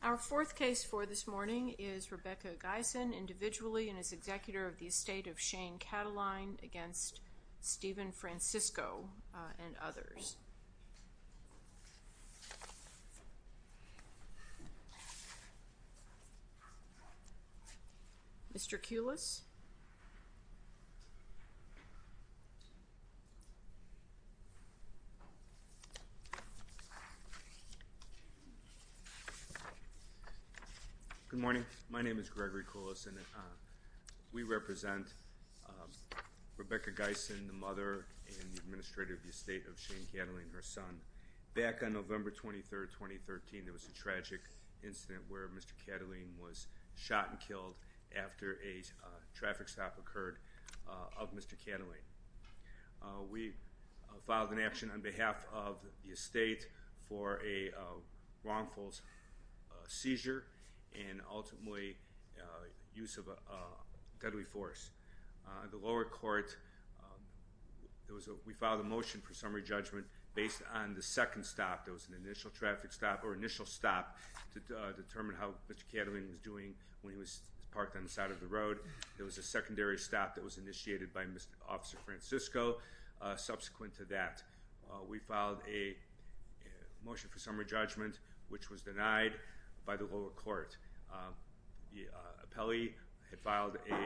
Our fourth case for this morning is Rebecca Gysan, individually and as executor of the estate of Shane Cattling, her son. Back on November 23rd, 2013, there was a tragic incident where Mr. Cattling was shot and killed after a traffic stop occurred on the side of the road, and he was taken to the hospital. We filed an action on behalf of the estate for a wrongful seizure and ultimately use of a deadly force. The lower court, we filed a motion for summary judgment based on the second stop that was an initial traffic stop or initial stop to determine how Mr. Cattling was doing when he was parked on the side of the road. There was a secondary stop that was initiated by Mr. Officer Francisco subsequent to that. We filed a motion for summary judgment, which was denied by the lower court. The appellee had filed a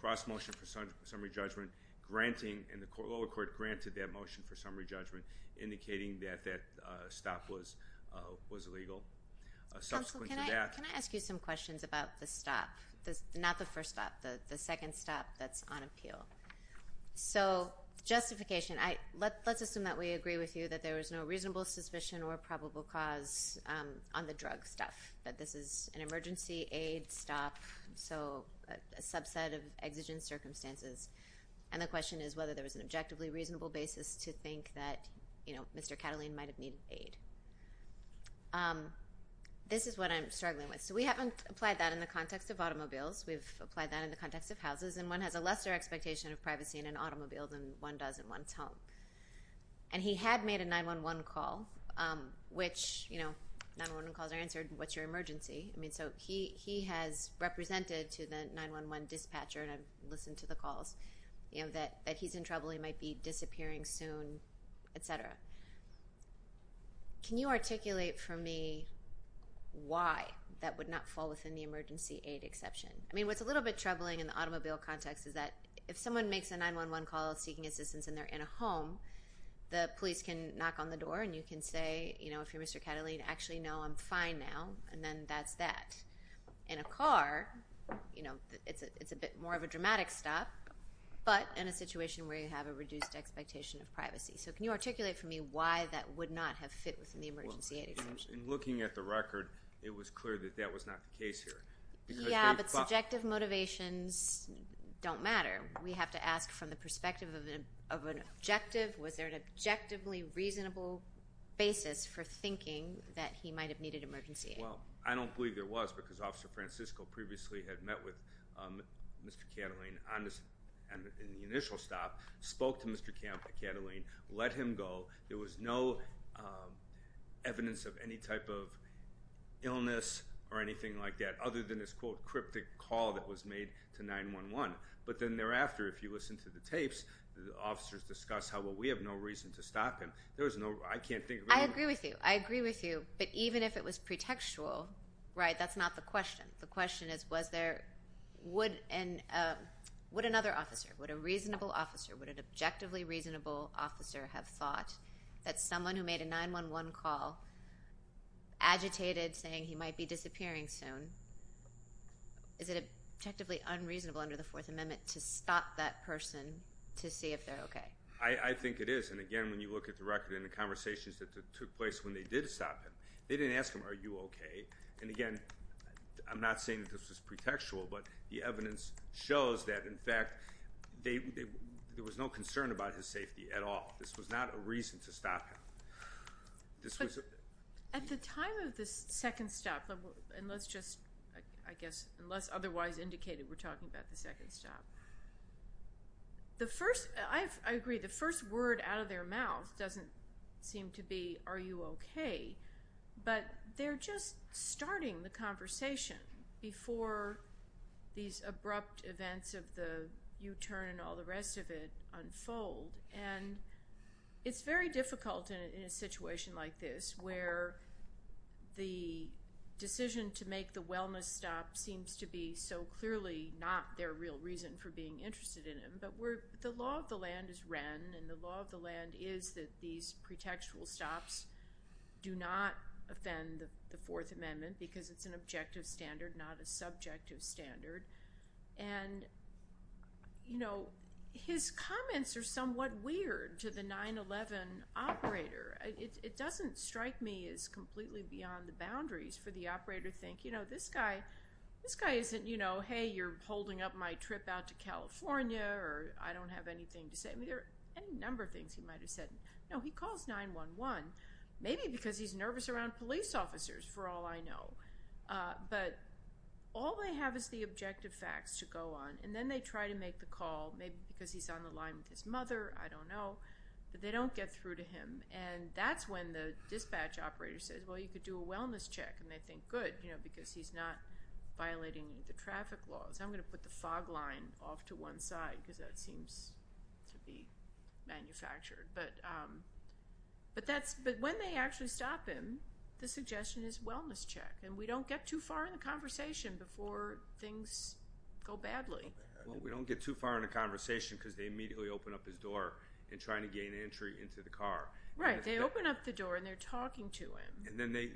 cross motion for summary judgment, and the lower court granted that motion for summary judgment, indicating that that stop was illegal. Counsel, can I ask you some questions about the stop? Not the first stop, the second stop that's on appeal. So, justification. Let's assume that we agree with you that there was no reasonable suspicion or probable cause on the drug stuff. That this is an emergency aid stop, so a subset of exigent circumstances. And the question is whether there was an objectively reasonable basis to think that Mr. Cattling might have needed aid. This is what I'm struggling with. So we haven't applied that in the context of automobiles. We've applied that in the context of houses, and one has a lesser expectation of privacy in an automobile than one does in one's home. And he had made a 911 call, which, you know, 911 calls are answered, what's your emergency? I mean, so he has represented to the 911 dispatcher, and I've listened to the calls, that he's in trouble, he might be disappearing soon, etc. Can you articulate for me why that would not fall within the emergency aid exception? I mean, what's a little bit troubling in the automobile context is that if someone makes a 911 call seeking assistance and they're in a home, the police can knock on the door and you can say, you know, if you're Mr. Cattling, actually, no, I'm fine now, and then that's that. In a car, you know, it's a bit more of a dramatic stop, but in a situation where you have a reduced expectation of privacy. So can you articulate for me why that would not have fit within the emergency aid exception? In looking at the record, it was clear that that was not the case here. Yeah, but subjective motivations don't matter. We have to ask from the perspective of an objective. Was there an objectively reasonable basis for thinking that he might have needed emergency aid? Well, I don't believe there was because Officer Francisco previously had met with Mr. Cattling in the initial stop, spoke to Mr. Cattling, let him go. There was no evidence of any type of illness or anything like that other than this, quote, cryptic call that was made to 911. But then thereafter, if you listen to the tapes, the officers discuss how, well, we have no reason to stop him. There was no—I can't think of— I agree with you. I agree with you. But even if it was pretextual, right, that's not the question. The question is was there—would another officer, would a reasonable officer, would an objectively reasonable officer have thought that someone who made a 911 call, agitated saying he might be disappearing soon, is it objectively unreasonable under the Fourth Amendment to stop that person to see if they're okay? I think it is. And, again, when you look at the record and the conversations that took place when they did stop him, they didn't ask him, are you okay? And, again, I'm not saying that this was pretextual, but the evidence shows that, in fact, there was no concern about his safety at all. This was not a reason to stop him. This was— At the time of the second stop, and let's just, I guess, unless otherwise indicated, we're talking about the second stop. The first—I agree, the first word out of their mouth doesn't seem to be, are you okay? But they're just starting the conversation before these abrupt events of the U-turn and all the rest of it unfold. And it's very difficult in a situation like this where the decision to make the wellness stop seems to be so clearly not their real reason for being interested in him. But the law of the land is Wren, and the law of the land is that these pretextual stops do not offend the Fourth Amendment because it's an objective standard, not a subjective standard. And, you know, his comments are somewhat weird to the 9-11 operator. It doesn't strike me as completely beyond the boundaries for the operator to think, you know, this guy isn't, you know, or I don't have anything to say. I mean, there are any number of things he might have said. No, he calls 9-11, maybe because he's nervous around police officers, for all I know. But all they have is the objective facts to go on, and then they try to make the call, maybe because he's on the line with his mother, I don't know, but they don't get through to him. And that's when the dispatch operator says, well, you could do a wellness check. And they think, good, you know, because he's not violating the traffic laws. I'm going to put the fog line off to one side because that seems to be manufactured. But when they actually stop him, the suggestion is wellness check, and we don't get too far in the conversation before things go badly. Well, we don't get too far in the conversation because they immediately open up his door and try to gain entry into the car. Right, they open up the door and they're talking to him. And then they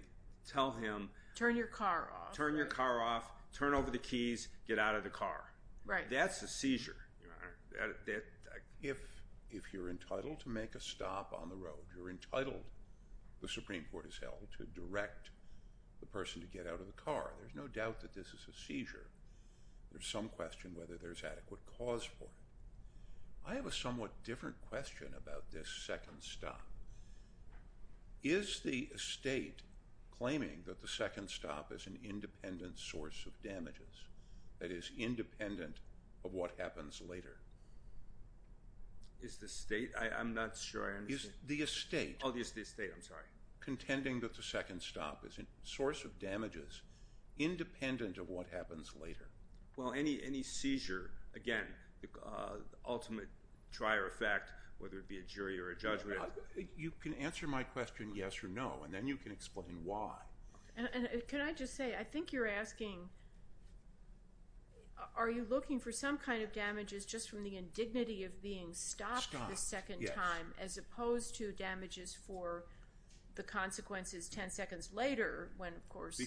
tell him. Turn your car off. Turn your car off. Turn over the keys. Get out of the car. Right. That's a seizure. If you're entitled to make a stop on the road, you're entitled, the Supreme Court has held, to direct the person to get out of the car, there's no doubt that this is a seizure. There's some question whether there's adequate cause for it. I have a somewhat different question about this second stop. Is the estate claiming that the second stop is an independent source of damages, that is, independent of what happens later? Is the estate? I'm not sure I understand. The estate. Oh, it's the estate. I'm sorry. Contending that the second stop is a source of damages independent of what happens later. Well, any seizure, again, ultimate try or effect, whether it be a jury or a judgment. You can answer my question yes or no, and then you can explain why. And can I just say, I think you're asking, are you looking for some kind of damages just from the indignity of being stopped the second time, as opposed to damages for the consequences 10 seconds later when, of course.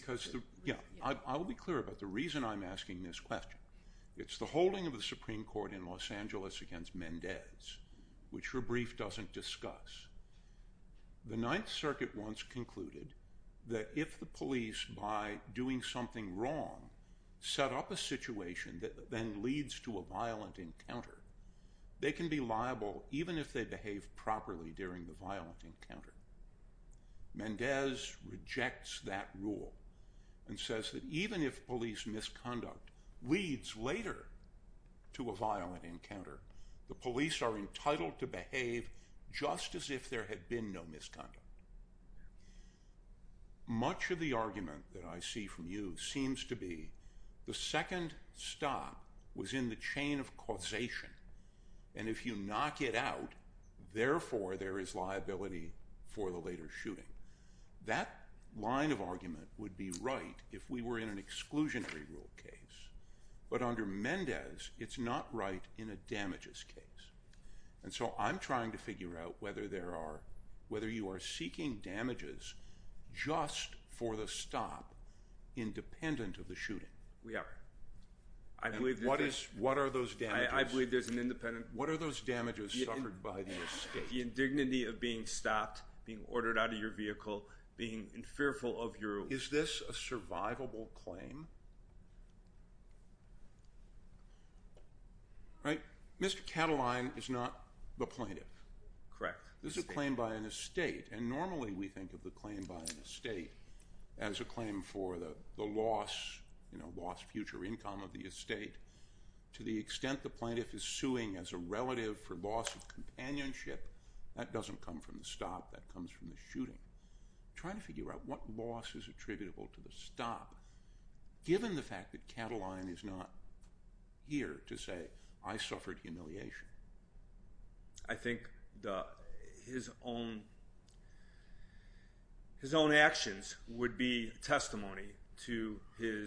I will be clear about the reason I'm asking this question. It's the holding of the Supreme Court in Los Angeles against Mendez, which her brief doesn't discuss. The Ninth Circuit once concluded that if the police, by doing something wrong, set up a situation that then leads to a violent encounter, they can be liable even if they behave properly during the violent encounter. Mendez rejects that rule and says that even if police misconduct leads later to a violent encounter, the police are entitled to behave just as if there had been no misconduct. Much of the argument that I see from you seems to be the second stop was in the chain of causation, and if you knock it out, therefore there is liability for the later shooting. That line of argument would be right if we were in an exclusionary rule case, but under Mendez, it's not right in a damages case. And so I'm trying to figure out whether there are, whether you are seeking damages just for the stop independent of the shooting. We are. And what are those damages? I believe there's an independent… What are those damages suffered by the estate? The indignity of being stopped, being ordered out of your vehicle, being fearful of your… Is this a survivable claim? Right. Mr. Catiline is not the plaintiff. Correct. This is a claim by an estate, and normally we think of the claim by an estate as a claim for the loss, you know, lost future income of the estate to the extent the plaintiff is suing as a relative for loss of companionship. That doesn't come from the stop. That comes from the shooting. I'm trying to figure out what loss is attributable to the stop, given the fact that Catiline is not here to say I suffered humiliation. I think his own actions would be testimony to the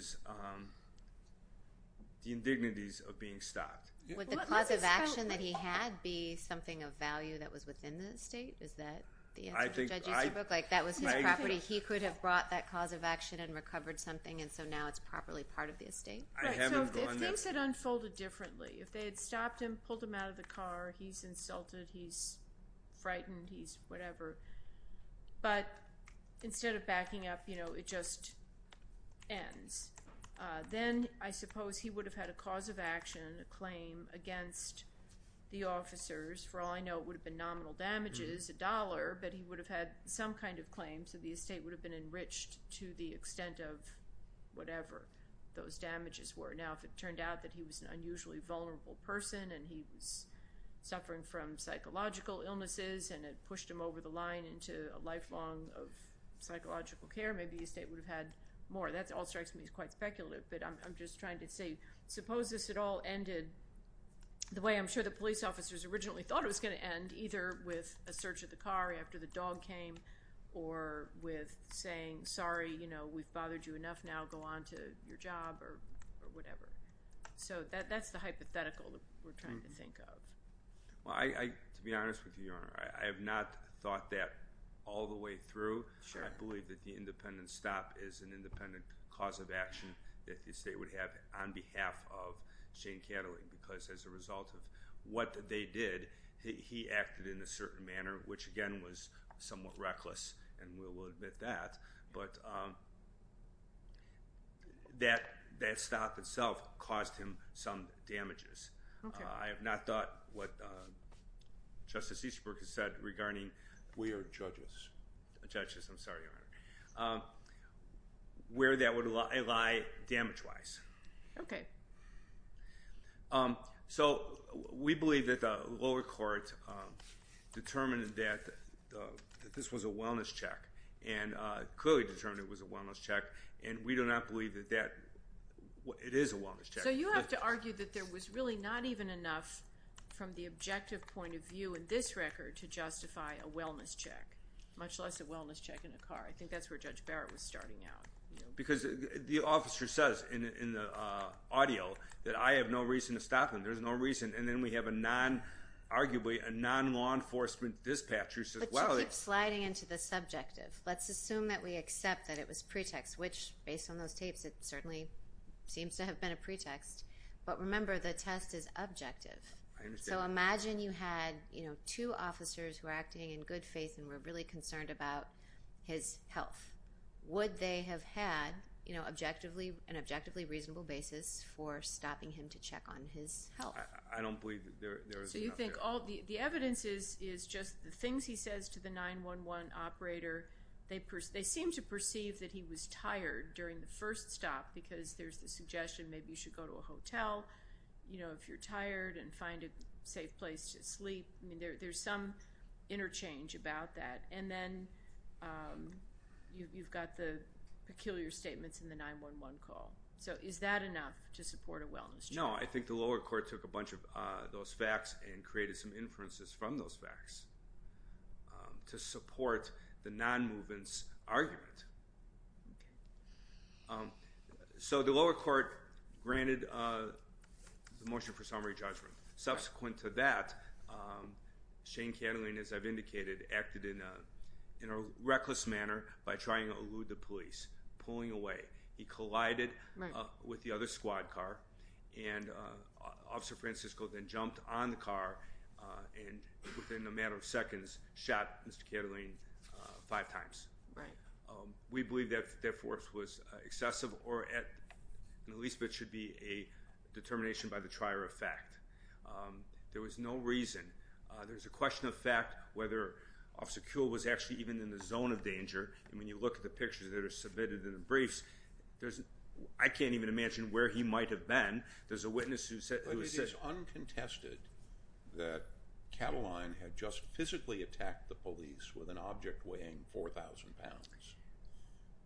indignities of being stopped. Would the cause of action that he had be something of value that was within the estate? Is that the answer to Judge Easterbrook? Like that was his property. He could have brought that cause of action and recovered something, and so now it's properly part of the estate? Right. So if things had unfolded differently, if they had stopped him, pulled him out of the car, he's insulted, he's frightened, he's whatever, but instead of backing up, you know, it just ends. Then I suppose he would have had a cause of action, a claim against the officers. For all I know, it would have been nominal damages, a dollar, but he would have had some kind of claim, so the estate would have been enriched to the extent of whatever those damages were. Now, if it turned out that he was an unusually vulnerable person and he was suffering from psychological illnesses and it pushed him over the line into a lifelong of psychological care, maybe the estate would have had more. That all strikes me as quite speculative, but I'm just trying to say, suppose this had all ended the way I'm sure the police officers originally thought it was going to end, either with a search of the car after the dog came or with saying, sorry, you know, we've bothered you enough now, go on to your job or whatever. So that's the hypothetical that we're trying to think of. Well, to be honest with you, Your Honor, I have not thought that all the way through. I believe that the independent stop is an independent cause of action that the estate would have on behalf of Shane Cattling, because as a result of what they did, he acted in a certain manner, which again was somewhat reckless, and we'll admit that. But that stop itself caused him some damages. I have not thought what Justice Easterbrook has said regarding- We are judges. Judges, I'm sorry, Your Honor. Where that would lie damage-wise. Okay. So we believe that the lower court determined that this was a wellness check and clearly determined it was a wellness check, and we do not believe that it is a wellness check. So you have to argue that there was really not even enough from the objective point of view in this record to justify a wellness check, much less a wellness check in a car. I think that's where Judge Barrett was starting out. Because the officer says in the audio that I have no reason to stop him, there's no reason, and then we have arguably a non-law enforcement dispatcher who says, well- But you keep sliding into the subjective. Let's assume that we accept that it was pretext, which based on those tapes, it certainly seems to have been a pretext. But remember, the test is objective. I understand. So imagine you had two officers who are acting in good faith and were really concerned about his health. Would they have had an objectively reasonable basis for stopping him to check on his health? I don't believe that there is enough there. The evidence is just the things he says to the 911 operator. They seem to perceive that he was tired during the first stop because there's the suggestion maybe you should go to a hotel if you're tired and find a safe place to sleep. There's some interchange about that. And then you've got the peculiar statements in the 911 call. So is that enough to support a wellness check? No, I think the lower court took a bunch of those facts and created some inferences from those facts to support the non-movement argument. So the lower court granted the motion for summary judgment. Subsequent to that, Shane Catiline, as I've indicated, acted in a reckless manner by trying to elude the police, pulling away. He collided with the other squad car, and Officer Francisco then jumped on the car and within a matter of seconds shot Mr. Catiline five times. We believe that that force was excessive or at the least it should be a determination by the trier of fact. There was no reason. There's a question of fact whether Officer Kuehl was actually even in the zone of danger. And when you look at the pictures that are submitted in the briefs, I can't even imagine where he might have been. There's a witness who said—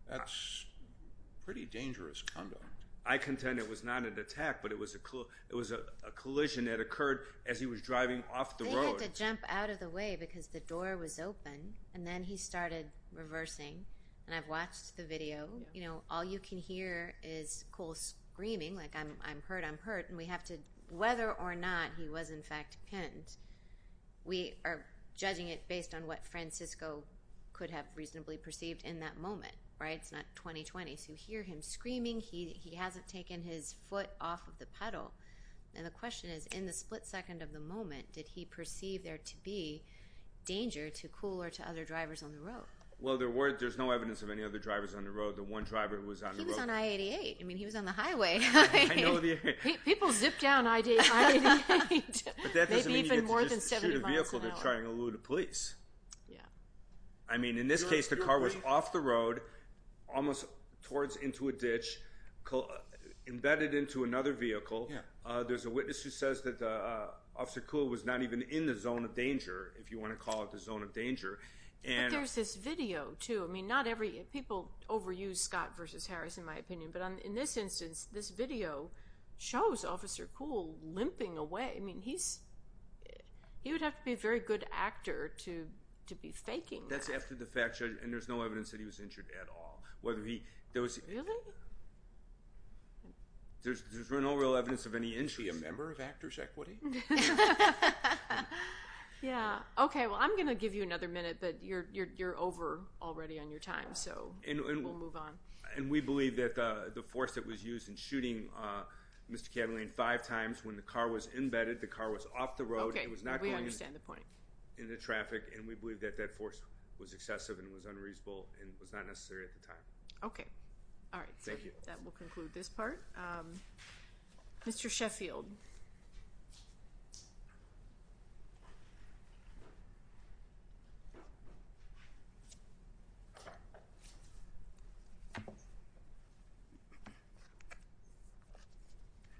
That's pretty dangerous conduct. I contend it was not an attack, but it was a collision that occurred as he was driving off the road. They had to jump out of the way because the door was open, and then he started reversing. And I've watched the video. You know, all you can hear is Kuehl screaming, like, I'm hurt, I'm hurt. And we have to—whether or not he was in fact pinned, we are judging it based on what Francisco could have reasonably perceived in that moment, right? It's not 20-20. So you hear him screaming. He hasn't taken his foot off of the pedal. And the question is, in the split second of the moment, did he perceive there to be danger to Kuehl or to other drivers on the road? Well, there's no evidence of any other drivers on the road. The one driver who was on the road— He was on I-88. I mean, he was on the highway. People zip down I-88. Right. Maybe even more than 70 miles an hour. But that doesn't mean you get to just shoot a vehicle. They're trying to elude the police. Yeah. I mean, in this case, the car was off the road, almost towards into a ditch, embedded into another vehicle. There's a witness who says that Officer Kuehl was not even in the zone of danger, if you want to call it the zone of danger. But there's this video, too. I mean, not every—people overuse Scott v. Harris, in my opinion. But in this instance, this video shows Officer Kuehl limping away. I mean, he's—he would have to be a very good actor to be faking that. That's after the fact, Judge, and there's no evidence that he was injured at all. Whether he— Really? There's no real evidence of any injury. Is he a member of Actors' Equity? Yeah. Okay, well, I'm going to give you another minute, but you're over already on your time, so we'll move on. And we believe that the force that was used in shooting Mr. Catalina five times, when the car was embedded, the car was off the road. Okay, we understand the point. It was not going into traffic, and we believe that that force was excessive and was unreasonable and was not necessary at the time. Okay. All right. Thank you. That will conclude this part. Mr. Sheffield.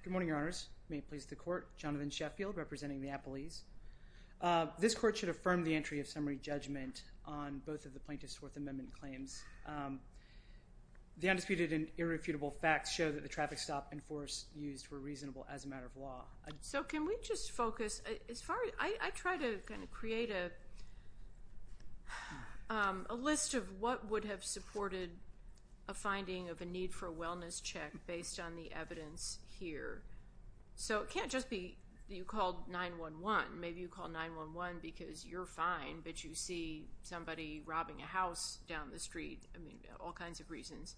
Good morning, Your Honors. May it please the Court. Jonathan Sheffield representing the appellees. This Court should affirm the entry of summary judgment on both of the Plaintiff's Fourth Amendment claims. The undisputed and irrefutable facts show that the traffic stop and force used were reasonable as a matter of law. So can we just focus? I try to kind of create a list of what would have supported a finding of a need for a wellness check based on the evidence here. So it can't just be you called 911. Maybe you called 911 because you're fine, but you see somebody robbing a house down the street. I mean, all kinds of reasons.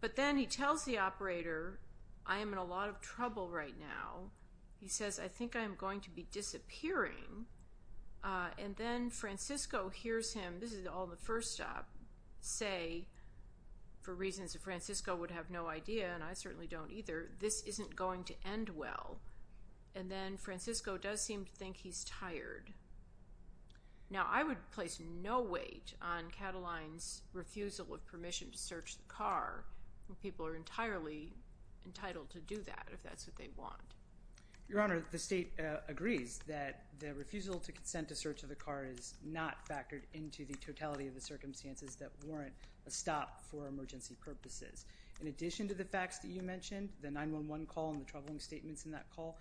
But then he tells the operator, I am in a lot of trouble right now. He says, I think I'm going to be disappearing. And then Francisco hears him, this is all in the first stop, say, for reasons that Francisco would have no idea, and I certainly don't either, this isn't going to end well. And then Francisco does seem to think he's tired. Now, I would place no weight on Catalin's refusal of permission to search the car. People are entirely entitled to do that if that's what they want. Your Honor, the State agrees that the refusal to consent to search of the car is not factored into the totality of the circumstances that warrant a stop for emergency purposes. In addition to the facts that you mentioned, the 911 call and the troubling statements in that call,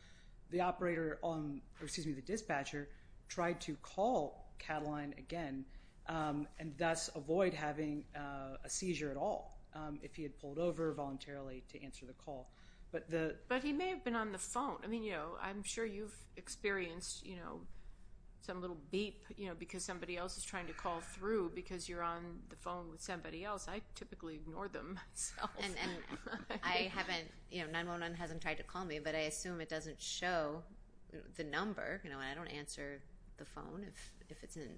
the dispatcher tried to call Catalin again and thus avoid having a seizure at all, if he had pulled over voluntarily to answer the call. But he may have been on the phone. I mean, I'm sure you've experienced some little beep because somebody else is trying to call through because you're on the phone with somebody else. I typically ignore them. And I haven't, you know, 911 hasn't tried to call me, but I assume it doesn't show the number. I don't answer the phone if it's an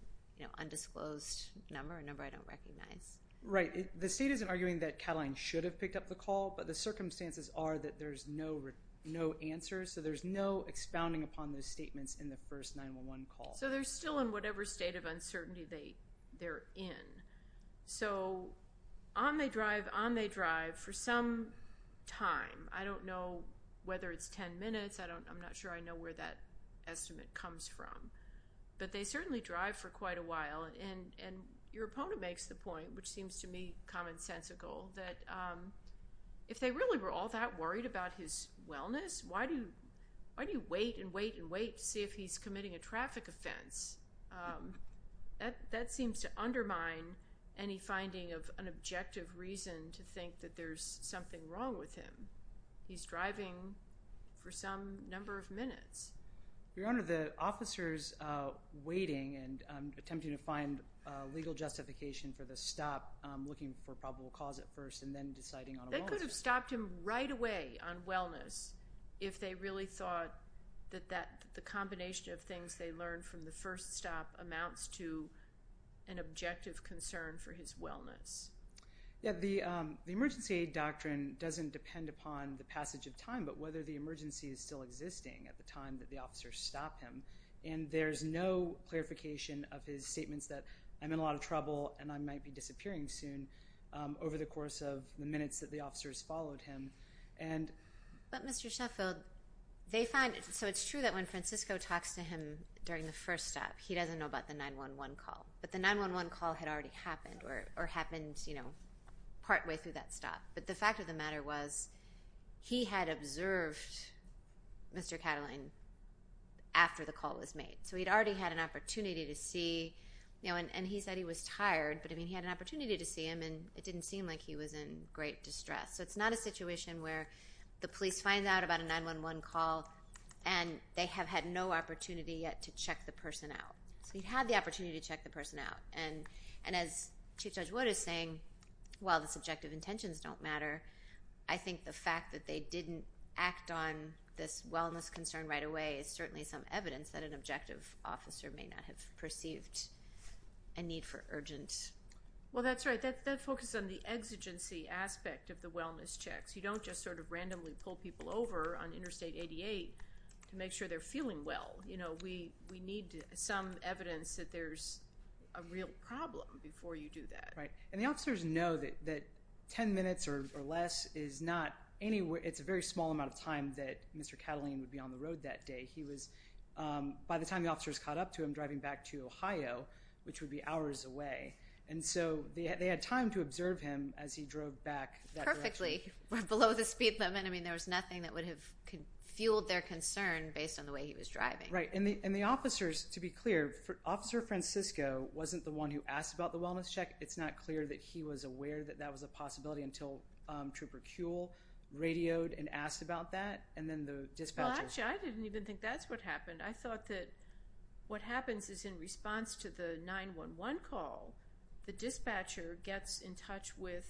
undisclosed number, a number I don't recognize. Right. The State isn't arguing that Catalin should have picked up the call, but the circumstances are that there's no answer, so there's no expounding upon those statements in the first 911 call. So they're still in whatever state of uncertainty they're in. So on they drive, on they drive for some time. I don't know whether it's 10 minutes. I'm not sure I know where that estimate comes from. But they certainly drive for quite a while. And your opponent makes the point, which seems to me commonsensical, that if they really were all that worried about his wellness, why do you wait and wait and wait to see if he's committing a traffic offense? That seems to undermine any finding of an objective reason to think that there's something wrong with him. He's driving for some number of minutes. Your Honor, the officers waiting and attempting to find legal justification for the stop, looking for probable cause at first and then deciding on a wellness. They could have stopped him right away on wellness if they really thought that the combination of things they learned from the first stop amounts to an objective concern for his wellness. Yeah, the emergency aid doctrine doesn't depend upon the passage of time, but whether the emergency is still existing at the time that the officers stop him. And there's no clarification of his statements that I'm in a lot of trouble and I might be disappearing soon over the course of the minutes that the officers followed him. But Mr. Sheffield, they find it. So it's true that when Francisco talks to him during the first stop, he doesn't know about the 911 call. But the 911 call had already happened or happened partway through that stop. But the fact of the matter was he had observed Mr. Catiline after the call was made. So he'd already had an opportunity to see. And he said he was tired, but he had an opportunity to see him, and it didn't seem like he was in great distress. So it's not a situation where the police find out about a 911 call and they have had no opportunity yet to check the person out. So he had the opportunity to check the person out. And as Chief Judge Wood is saying, while the subjective intentions don't matter, I think the fact that they didn't act on this wellness concern right away is certainly some evidence that an objective officer may not have perceived a need for urgent. Well, that's right. That focuses on the exigency aspect of the wellness checks. You don't just sort of randomly pull people over on Interstate 88 to make sure they're feeling well. You know, we need some evidence that there's a real problem before you do that. Right. And the officers know that 10 minutes or less is not anywhere. It's a very small amount of time that Mr. Catiline would be on the road that day. By the time the officers caught up to him driving back to Ohio, which would be hours away. And so they had time to observe him as he drove back that direction. Perfectly. We're below the speed limit. I mean, there was nothing that would have fueled their concern based on the way he was driving. Right. And the officers, to be clear, Officer Francisco wasn't the one who asked about the wellness check. It's not clear that he was aware that that was a possibility until Trooper Kuehl radioed and asked about that. And then the dispatchers. Well, actually, I didn't even think that's what happened. I thought that what happens is in response to the 911 call, the dispatcher gets in touch with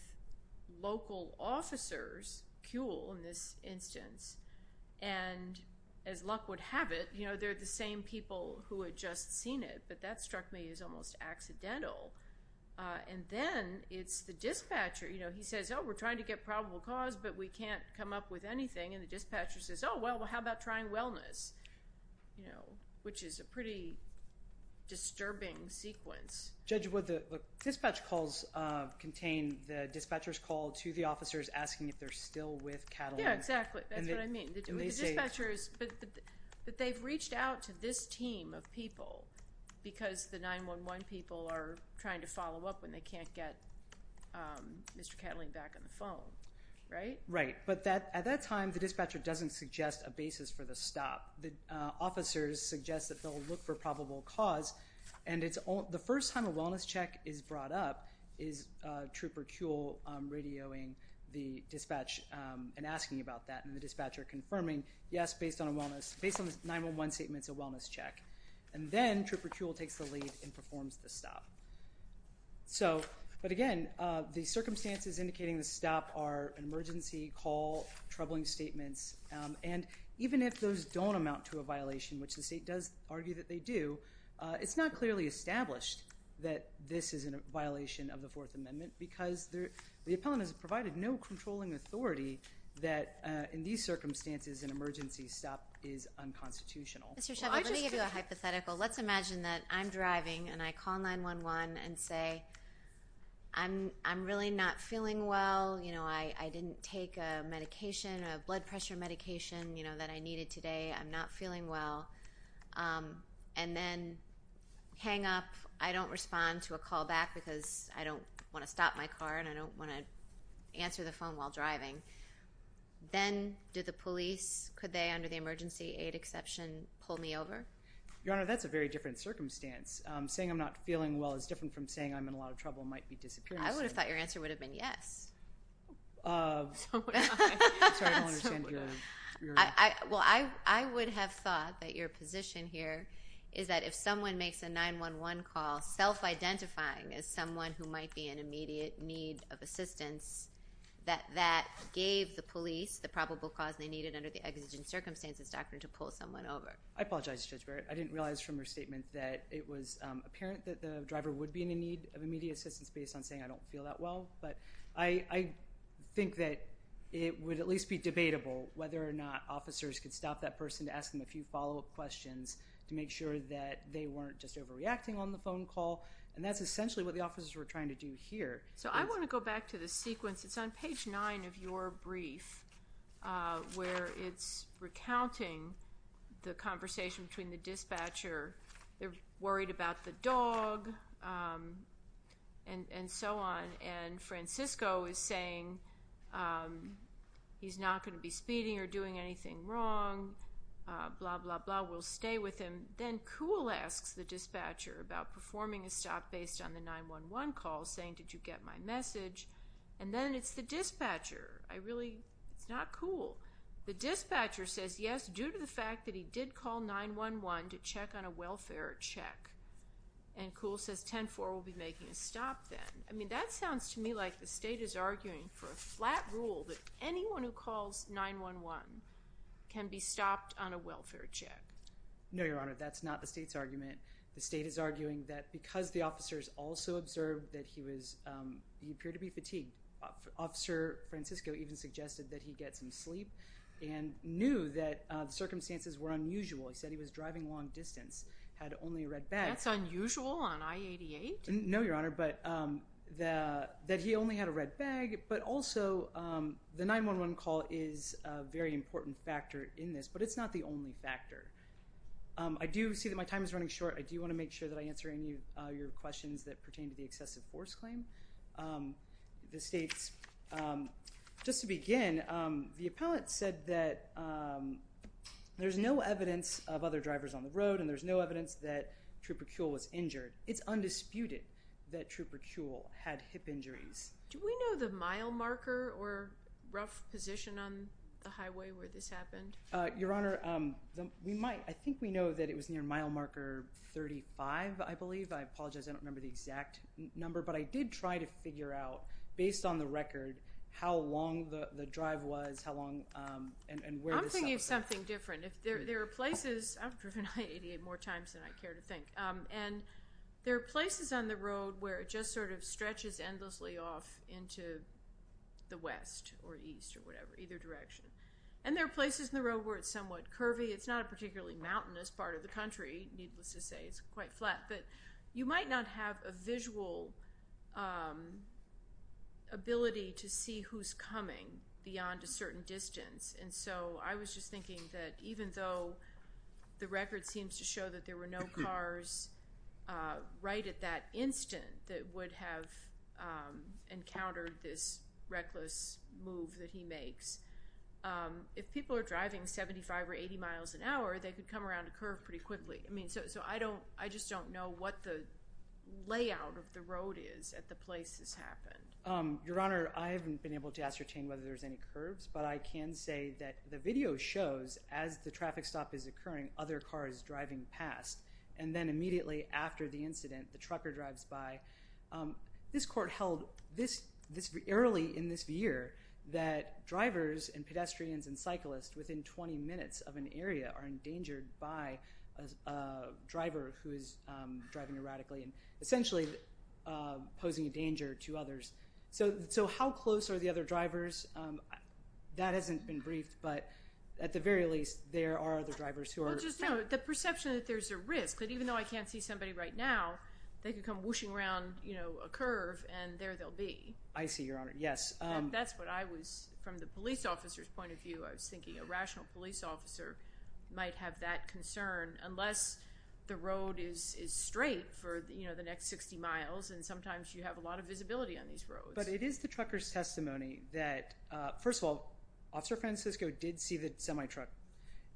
local officers, Kuehl in this instance. And as luck would have it, you know, they're the same people who had just seen it. But that struck me as almost accidental. And then it's the dispatcher. You know, he says, oh, we're trying to get probable cause, but we can't come up with anything. And the dispatcher says, oh, well, how about trying wellness? You know, which is a pretty disturbing sequence. Judge Wood, the dispatch calls contain the dispatcher's call to the officers asking if they're still with Catalina. Yeah, exactly. That's what I mean. But they've reached out to this team of people because the 911 people are trying to follow up when they can't get Mr. Catalina back on the phone, right? Right. But at that time, the dispatcher doesn't suggest a basis for the stop. The officers suggest that they'll look for probable cause. And the first time a wellness check is brought up is Trooper Kuehl radioing the dispatch and asking about that. And the dispatcher confirming, yes, based on the 911 statement, it's a wellness check. And then Trooper Kuehl takes the lead and performs the stop. So, but again, the circumstances indicating the stop are an emergency call, troubling statements. And even if those don't amount to a violation, which the state does argue that they do, it's not clearly established that this is a violation of the Fourth Amendment because the appellant has provided no controlling authority that, in these circumstances, an emergency stop is unconstitutional. Mr. Sheffield, let me give you a hypothetical. Let's imagine that I'm driving and I call 911 and say, I'm really not feeling well. You know, I didn't take a medication, a blood pressure medication, you know, that I needed today. I'm not feeling well. And then hang up. I don't respond to a call back because I don't want to stop my car and I don't want to answer the phone while driving. Then do the police, could they, under the emergency aid exception, pull me over? Your Honor, that's a very different circumstance. Saying I'm not feeling well is different from saying I'm in a lot of trouble might be disappearing. I would have thought your answer would have been yes. Sorry, I don't understand your reaction. Well, I would have thought that your position here is that if someone makes a 911 call, self-identifying as someone who might be in immediate need of assistance, that that gave the police the probable cause they needed under the exigent circumstances doctrine to pull someone over. I apologize, Judge Barrett. I didn't realize from your statement that it was apparent that the driver would be in a need of immediate assistance based on saying I don't feel that well. But I think that it would at least be debatable whether or not officers could stop that person to ask them a few follow-up questions to make sure that they weren't just overreacting on the phone call. And that's essentially what the officers were trying to do here. So I want to go back to the sequence. It's on page 9 of your brief where it's recounting the conversation between the dispatcher. They're worried about the dog and so on. And Francisco is saying he's not going to be speeding or doing anything wrong, blah, blah, blah. We'll stay with him. Then Coole asks the dispatcher about performing a stop based on the 911 call, saying, did you get my message? And then it's the dispatcher. I really, it's not Coole. The dispatcher says, yes, due to the fact that he did call 911 to check on a welfare check. And Coole says 10-4 will be making a stop then. I mean, that sounds to me like the state is arguing for a flat rule that anyone who calls 911 can be stopped on a welfare check. No, Your Honor, that's not the state's argument. The state is arguing that because the officers also observed that he was, he appeared to be fatigued. Officer Francisco even suggested that he get some sleep and knew that the circumstances were unusual. He said he was driving long distance, had only a red bag. That's unusual on I-88? No, Your Honor, but that he only had a red bag, but also the 911 call is a very important factor in this. But it's not the only factor. I do see that my time is running short. I do want to make sure that I answer any of your questions that pertain to the excessive force claim. The state's, just to begin, the appellate said that there's no evidence of other drivers on the road and there's no evidence that Trooper Coole was injured. It's undisputed that Trooper Coole had hip injuries. Do we know the mile marker or rough position on the highway where this happened? Your Honor, we might. I think we know that it was near mile marker 35, I believe. I apologize, I don't remember the exact number. But I did try to figure out, based on the record, how long the drive was, how long, and where this happened. I'm thinking of something different. There are places, I've driven I-88 more times than I care to think. And there are places on the road where it just sort of stretches endlessly off into the west or east or whatever, either direction. And there are places on the road where it's somewhat curvy. It's not a particularly mountainous part of the country, needless to say. It's quite flat. But you might not have a visual ability to see who's coming beyond a certain distance. And so I was just thinking that even though the record seems to show that there were no cars right at that instant that would have encountered this reckless move that he makes, if people are driving 75 or 80 miles an hour, they could come around a curve pretty quickly. So I just don't know what the layout of the road is at the place this happened. Your Honor, I haven't been able to ascertain whether there's any curves. But I can say that the video shows as the traffic stop is occurring, other cars driving past. And then immediately after the incident, the trucker drives by. This court held early in this year that drivers and pedestrians and cyclists within 20 minutes of an area are endangered by a driver who is driving erratically and essentially posing a danger to others. So how close are the other drivers? That hasn't been briefed, but at the very least, there are other drivers who are. Well, just the perception that there's a risk, that even though I can't see somebody right now, they could come whooshing around a curve and there they'll be. I see, Your Honor, yes. That's what I was, from the police officer's point of view, I was thinking a rational police officer might have that concern unless the road is straight for the next 60 miles and sometimes you have a lot of visibility on these roads. But it is the trucker's testimony that, first of all, Officer Francisco did see the semi-truck,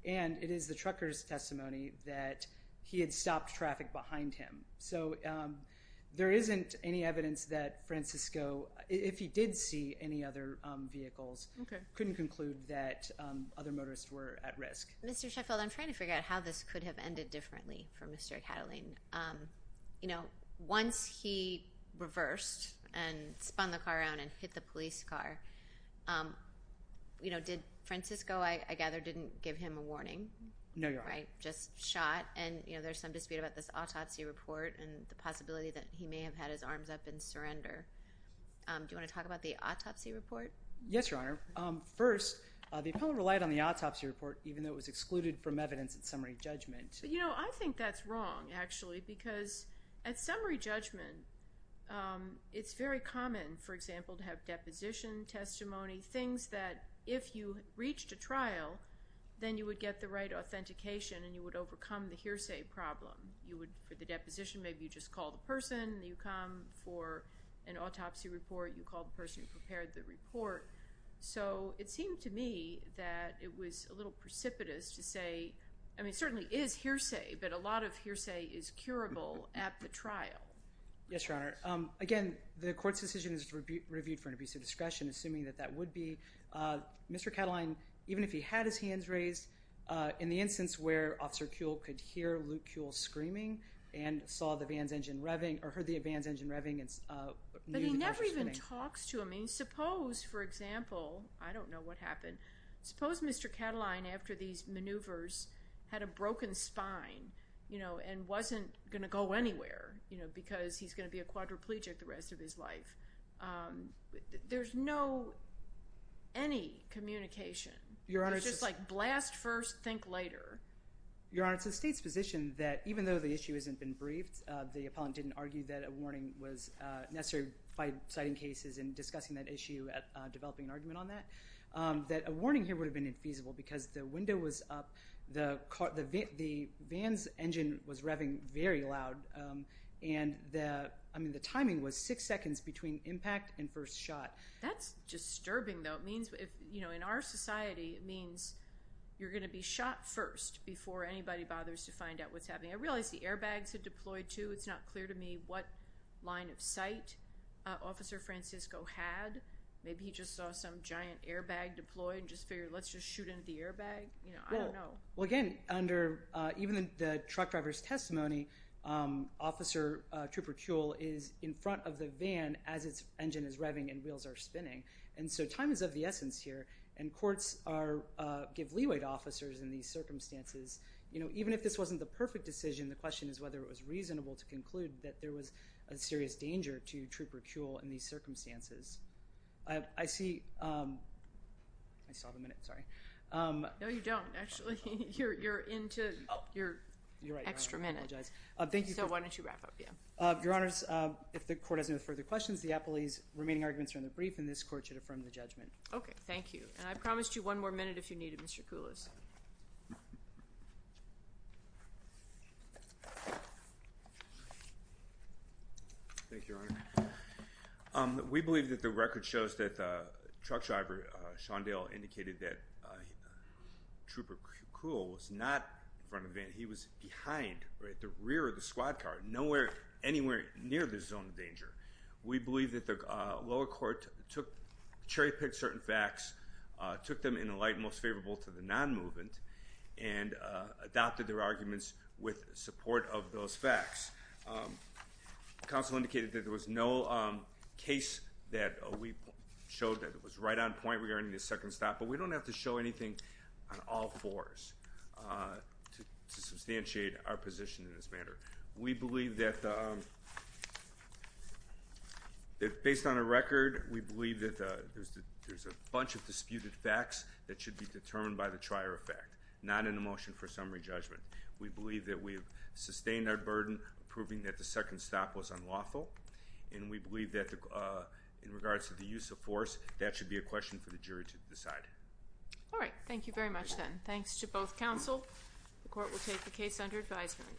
and it is the trucker's testimony that he had stopped traffic behind him. So there isn't any evidence that Francisco, if he did see any other vehicles, couldn't conclude that other motorists were at risk. Mr. Sheffield, I'm trying to figure out how this could have ended differently for Mr. Catalin. You know, once he reversed and spun the car around and hit the police car, did Francisco, I gather, didn't give him a warning? No, Your Honor. Just shot, and there's some dispute about this autopsy report and the possibility that he may have had his arms up in surrender. Do you want to talk about the autopsy report? Yes, Your Honor. First, the appellant relied on the autopsy report even though it was excluded from evidence at summary judgment. You know, I think that's wrong, actually, because at summary judgment, it's very common, for example, to have deposition testimony, things that if you reached a trial, then you would get the right authentication and you would overcome the hearsay problem. You would, for the deposition, maybe you just call the person, you come for an autopsy report, you call the person who prepared the report. So it seemed to me that it was a little precipitous to say, I mean, it certainly is hearsay, but a lot of hearsay is curable at the trial. Yes, Your Honor. Again, the court's decision is reviewed for an abuse of discretion, assuming that that would be. Mr. Catalin, even if he had his hands raised, in the instance where Officer Kuehl could hear Luke Kuehl screaming and saw the van's engine revving or heard the van's engine revving and knew the person was screaming. But he never even talks to him. I mean, suppose, for example, I don't know what happened. Suppose Mr. Catalin, after these maneuvers, had a broken spine, you know, and wasn't going to go anywhere, you know, because he's going to be a quadriplegic the rest of his life. There's no, any communication. Your Honor, it's just like blast first, think later. Your Honor, it's the State's position that even though the issue hasn't been briefed, the appellant didn't argue that a warning was necessary by citing cases and discussing that issue and developing an argument on that, that a warning here would have been infeasible because the window was up, the car, the van's engine was revving very loud, and the, I mean, the timing was six seconds between impact and first shot. That's disturbing, though. In our society, it means you're going to be shot first before anybody bothers to find out what's happening. I realize the airbags had deployed, too. It's not clear to me what line of sight Officer Francisco had. Maybe he just saw some giant airbag deployed and just figured let's just shoot into the airbag. You know, I don't know. Well, again, under even the truck driver's testimony, Officer Trooper Kuehl is in front of the van as its engine is revving and wheels are spinning. And so time is of the essence here, and courts give leeway to officers in these circumstances. You know, even if this wasn't the perfect decision, the question is whether it was reasonable to conclude that there was a serious danger to Trooper Kuehl in these circumstances. I see, I saw the minute, sorry. No, you don't, actually. You're into your extra minute. Thank you. So why don't you wrap up here? Your Honors, if the court has no further questions, the appellee's remaining arguments are in the brief, and this court should affirm the judgment. Okay, thank you. And I promised you one more minute if you need it, Mr. Koulos. Thank you, Your Honor. We believe that the record shows that the truck driver, Sean Dale, indicated that Trooper Kuehl was not in front of the van. He was behind, right at the rear of the squad car, nowhere anywhere near the zone of danger. We believe that the lower court cherry-picked certain facts, took them in a light most favorable to the non-movement, and adopted their arguments with support of those facts. Counsel indicated that there was no case that we showed that was right on point regarding the second stop, but we don't have to show anything on all fours to substantiate our position in this matter. We believe that, based on the record, we believe that there's a bunch of disputed facts that should be determined by the trier of fact, not in a motion for summary judgment. We believe that we've sustained our burden proving that the second stop was unlawful, and we believe that in regards to the use of force, that should be a question for the jury to decide. All right. Thank you very much, then. Thanks to both counsel. The court will take the case under advisement.